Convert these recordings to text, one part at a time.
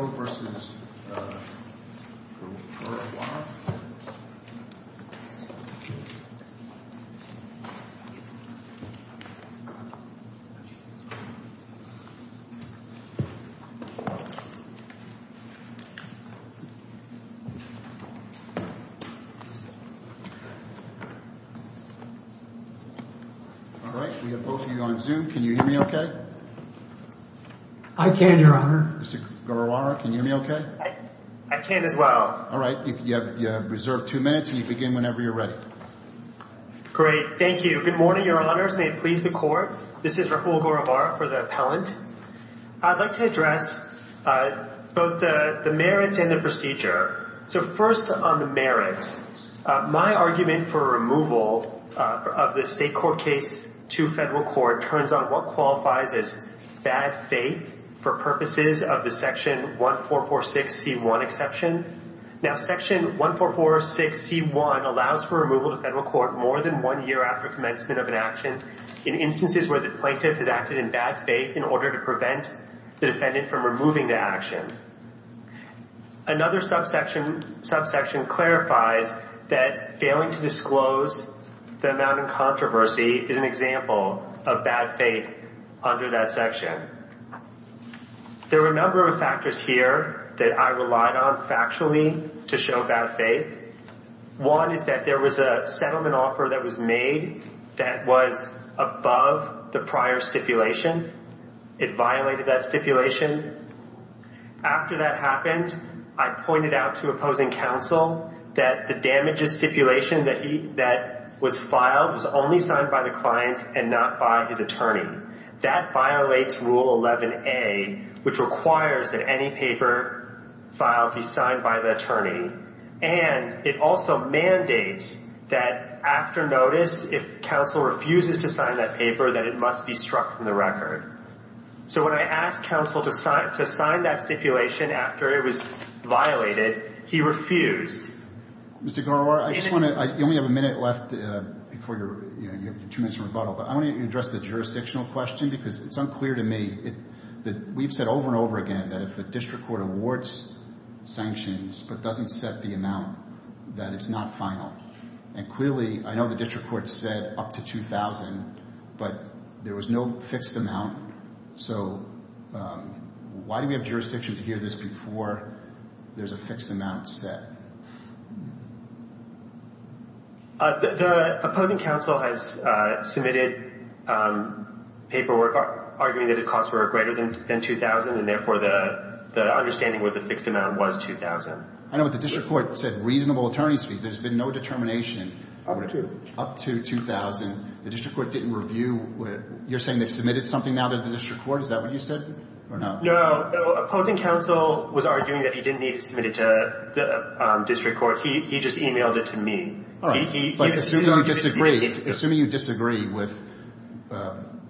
All right. We have both of you on Zoom. Can you hear me okay? I can, Your Honor. Mr. Gorawara, can you hear me okay? I can as well. All right. You have reserved two minutes, and you begin whenever you're ready. Great. Thank you. Good morning, Your Honors. May it please the Court. This is Rahul Gorawara for the appellant. I'd like to address both the merits and the procedure. So first on the merits, my argument for removal of the state court case to federal court turns on what qualifies as bad faith for purposes of the Section 1446c1 exception. Now, Section 1446c1 allows for removal to federal court more than one year after commencement of an action in instances where the plaintiff has acted in bad faith in order to prevent the defendant from removing the action. Another subsection clarifies that failing to disclose the amount in controversy is an example of bad faith under that section. There were a number of factors here that I relied on factually to show bad faith. One is that there was a settlement offer that was made that was above the prior stipulation. It violated that stipulation. After that happened, I pointed out to opposing counsel that the damages stipulation that was filed was only signed by the client and not by his attorney. That violates Rule 11A, which requires that any paper filed be signed by the attorney. And it also mandates that after notice, if counsel refuses to sign that paper, that it must be struck from the record. So when I asked counsel to sign that stipulation after it was violated, he refused. Mr. Giroir, I just want to – you only have a minute left before you're – you have two minutes for rebuttal. But I want to address the jurisdictional question because it's unclear to me that we've said over and over again that if a district court awards sanctions but doesn't set the amount, that it's not final. And clearly, I know the district court said up to 2,000, but there was no fixed amount. So why do we have jurisdiction to hear this before there's a fixed amount set? The opposing counsel has submitted paperwork arguing that its costs were greater than 2,000, and therefore, the understanding was the fixed amount was 2,000. I know, but the district court said reasonable attorney's fees. There's been no determination. Up to. Up to 2,000. The district court didn't review – you're saying they've submitted something now to the district court? Is that what you said or no? No. Opposing counsel was arguing that he didn't need to submit it to the district court. He just e-mailed it to me. All right. But assuming you disagree – assuming you disagree with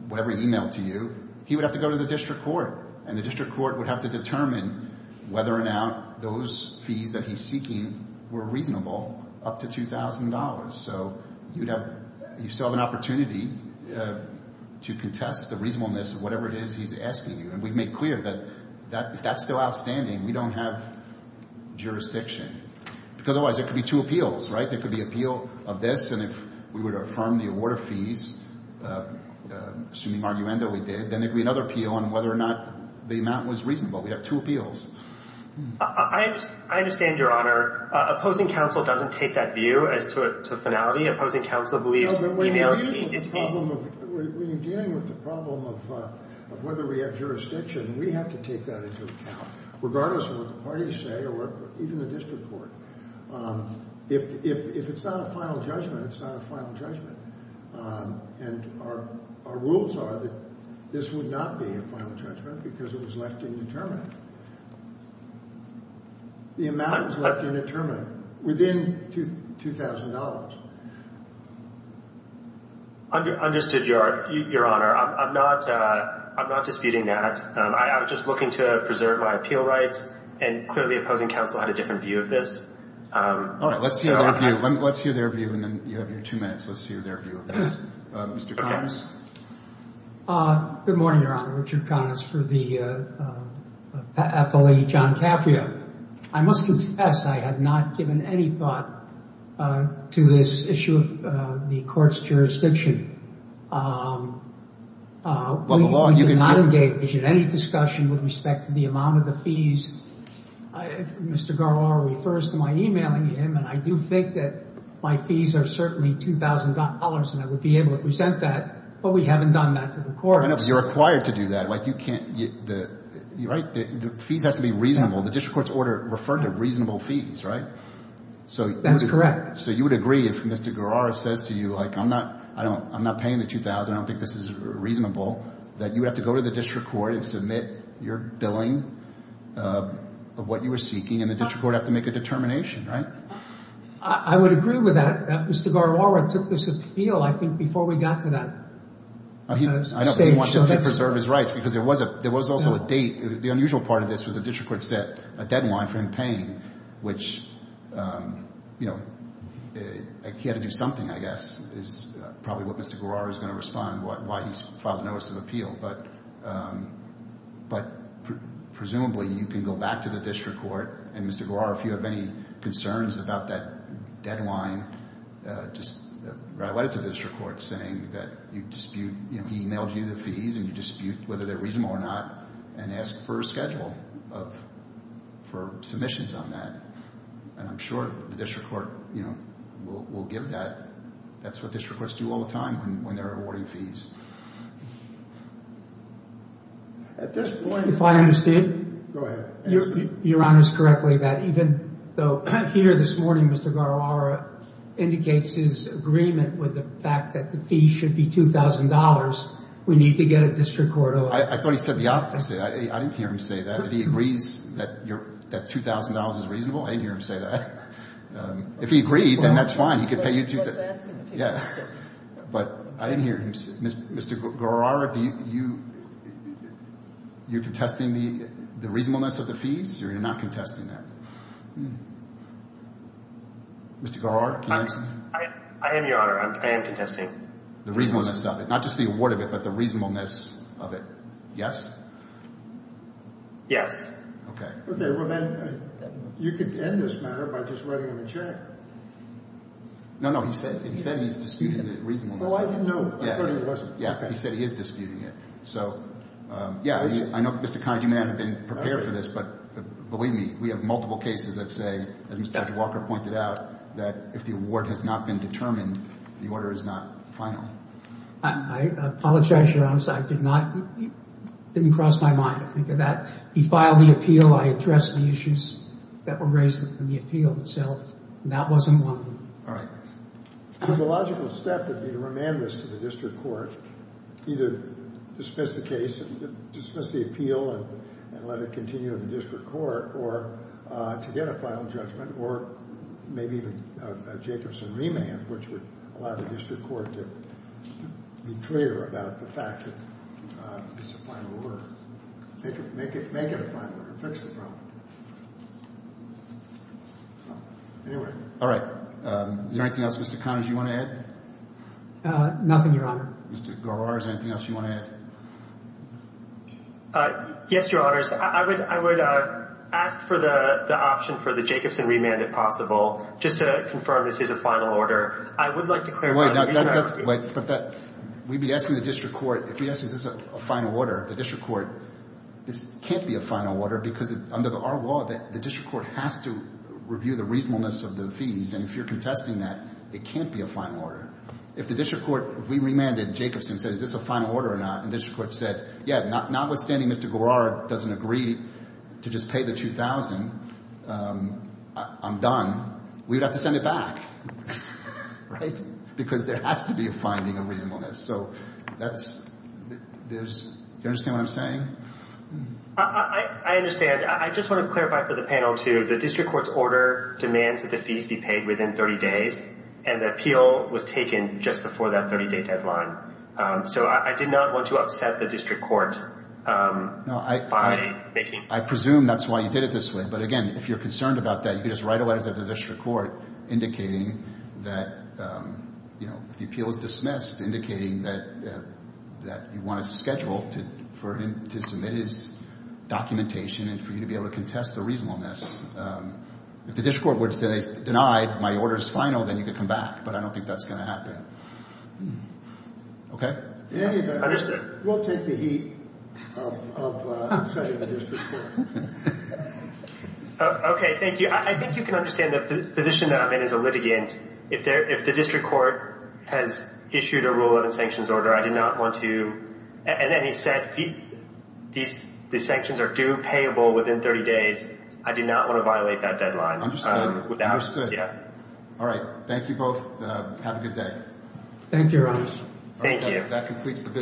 whatever he e-mailed to you, he would have to go to the district court. And the district court would have to determine whether or not those fees that he's seeking were reasonable up to $2,000. So you'd have – you still have an opportunity to contest the reasonableness of whatever it is he's asking you. And we've made clear that if that's still outstanding, we don't have jurisdiction. Because otherwise there could be two appeals, right? There could be appeal of this, and if we were to affirm the award of fees, assuming arguendo we did, then there could be another appeal on whether or not the amount was reasonable. We'd have two appeals. I understand, Your Honor. Opposing counsel doesn't take that view as to finality. Opposing counsel believes e-mails being detained – When you're dealing with the problem of whether we have jurisdiction, we have to take that into account, regardless of what the parties say or even the district court. If it's not a final judgment, it's not a final judgment. And our rules are that this would not be a final judgment because it was left indeterminate. The amount was left indeterminate within $2,000. Understood, Your Honor. I'm not disputing that. I'm just looking to preserve my appeal rights. And clearly opposing counsel had a different view of this. All right. Let's hear their view. And then you have your two minutes. Let's hear their view of that. Mr. Connors. Good morning, Your Honor. Richard Connors for the FLE John Caprio. I must confess I have not given any thought to this issue of the court's jurisdiction. We did not engage in any discussion with respect to the amount of the fees. Mr. Guerrero refers to my e-mailing him, and I do think that my fees are certainly $2,000, and I would be able to present that, but we haven't done that to the courts. I know, but you're required to do that. Like, you can't, you're right, the fees have to be reasonable. The district court's order referred to reasonable fees, right? That's correct. So you would agree if Mr. Guerrero says to you, like, I'm not paying the $2,000, I don't think this is reasonable, that you have to go to the district court and submit your billing of what you were seeking, and the district court would have to make a determination, right? I would agree with that. Mr. Guerrero took this appeal, I think, before we got to that stage. I know, but he wanted to preserve his rights, because there was also a date. The unusual part of this was the district court set a deadline for him paying, which, you know, he had to do something, I guess, is probably what Mr. Guerrero's going to respond, why he's filed a notice of appeal. But presumably, you can go back to the district court, and Mr. Guerrero, if you have any concerns about that deadline, just write a letter to the district court saying that you dispute, you know, he mailed you the fees and you dispute whether they're reasonable or not, and ask for a schedule for submissions on that. And I'm sure the district court, you know, will give that. That's what district courts do all the time when they're awarding fees. At this point, if I understand. Go ahead. You're honest correctly that even though here this morning, Mr. Guerrero indicates his agreement with the fact that the fee should be $2,000, we need to get a district court order. I thought he said the opposite. I didn't hear him say that, that he agrees that $2,000 is reasonable. I didn't hear him say that. If he agreed, then that's fine. He could pay you to. But I didn't hear him say. Mr. Guerrero, you're contesting the reasonableness of the fees, or you're not contesting that? Mr. Guerrero, can you answer? I am, Your Honor. I am contesting. The reasonableness of it. Not just the award of it, but the reasonableness of it. Yes? Yes. Okay. Okay. Well, then you could end this matter by just writing him a check. No, no. He said he's disputing the reasonableness of it. Oh, I didn't know. I thought he wasn't. Yeah. He said he is disputing it. So, yeah. I know, Mr. Kahn, you may not have been prepared for this, but believe me, we have multiple cases that say, as Mr. Judge Walker pointed out, that if the award has not been determined, the order is not final. I apologize, Your Honor. I did not – it didn't cross my mind to think of that. He filed the appeal. I addressed the issues that were raised in the appeal itself, and that wasn't one. All right. So the logical step would be to remand this to the district court, either dismiss the case, dismiss the appeal, and let it continue in the district court, or to get a final judgment, or maybe even a Jacobson remand, which would allow the district court to be clear about the fact that it's a final order. Make it a final order. Fix the problem. Anyway. All right. Is there anything else, Mr. Connors, you want to add? Nothing, Your Honor. Mr. Garrard, is there anything else you want to add? Yes, Your Honors. I would ask for the option for the Jacobson remand, if possible, just to confirm this is a final order. I would like to clarify. Wait. We'd be asking the district court. If we ask is this a final order, the district court, this can't be a final order, because under our law, the district court has to review the reasonableness of the fees, and if you're contesting that, it can't be a final order. If the district court remanded Jacobson and said is this a final order or not, and the district court said, yeah, notwithstanding Mr. Garrard doesn't agree to just pay the $2,000, I'm done, we'd have to send it back, right, because there has to be a finding of reasonableness. So that's – do you understand what I'm saying? I understand. I just want to clarify for the panel, too. The district court's order demands that the fees be paid within 30 days, and the appeal was taken just before that 30-day deadline. So I did not want to upset the district court by making – I presume that's why you did it this way. But, again, if you're concerned about that, you can just write a letter to the district court indicating that, you know, if the appeal is dismissed, indicating that you want a schedule for him to submit his documentation and for you to be able to contest the reasonableness. If the district court were to say they denied my order is final, then you could come back, but I don't think that's going to happen. Okay? Understood. We'll take the heat of upsetting the district court. Okay, thank you. I think you can understand the position that I'm in as a litigant. If the district court has issued a Rule 11 sanctions order, I do not want to – and then he said these sanctions are due, payable within 30 days. I do not want to violate that deadline. Yeah. All right. Thank you both. Have a good day. Thank you, Your Honor. Thank you. That completes the visit.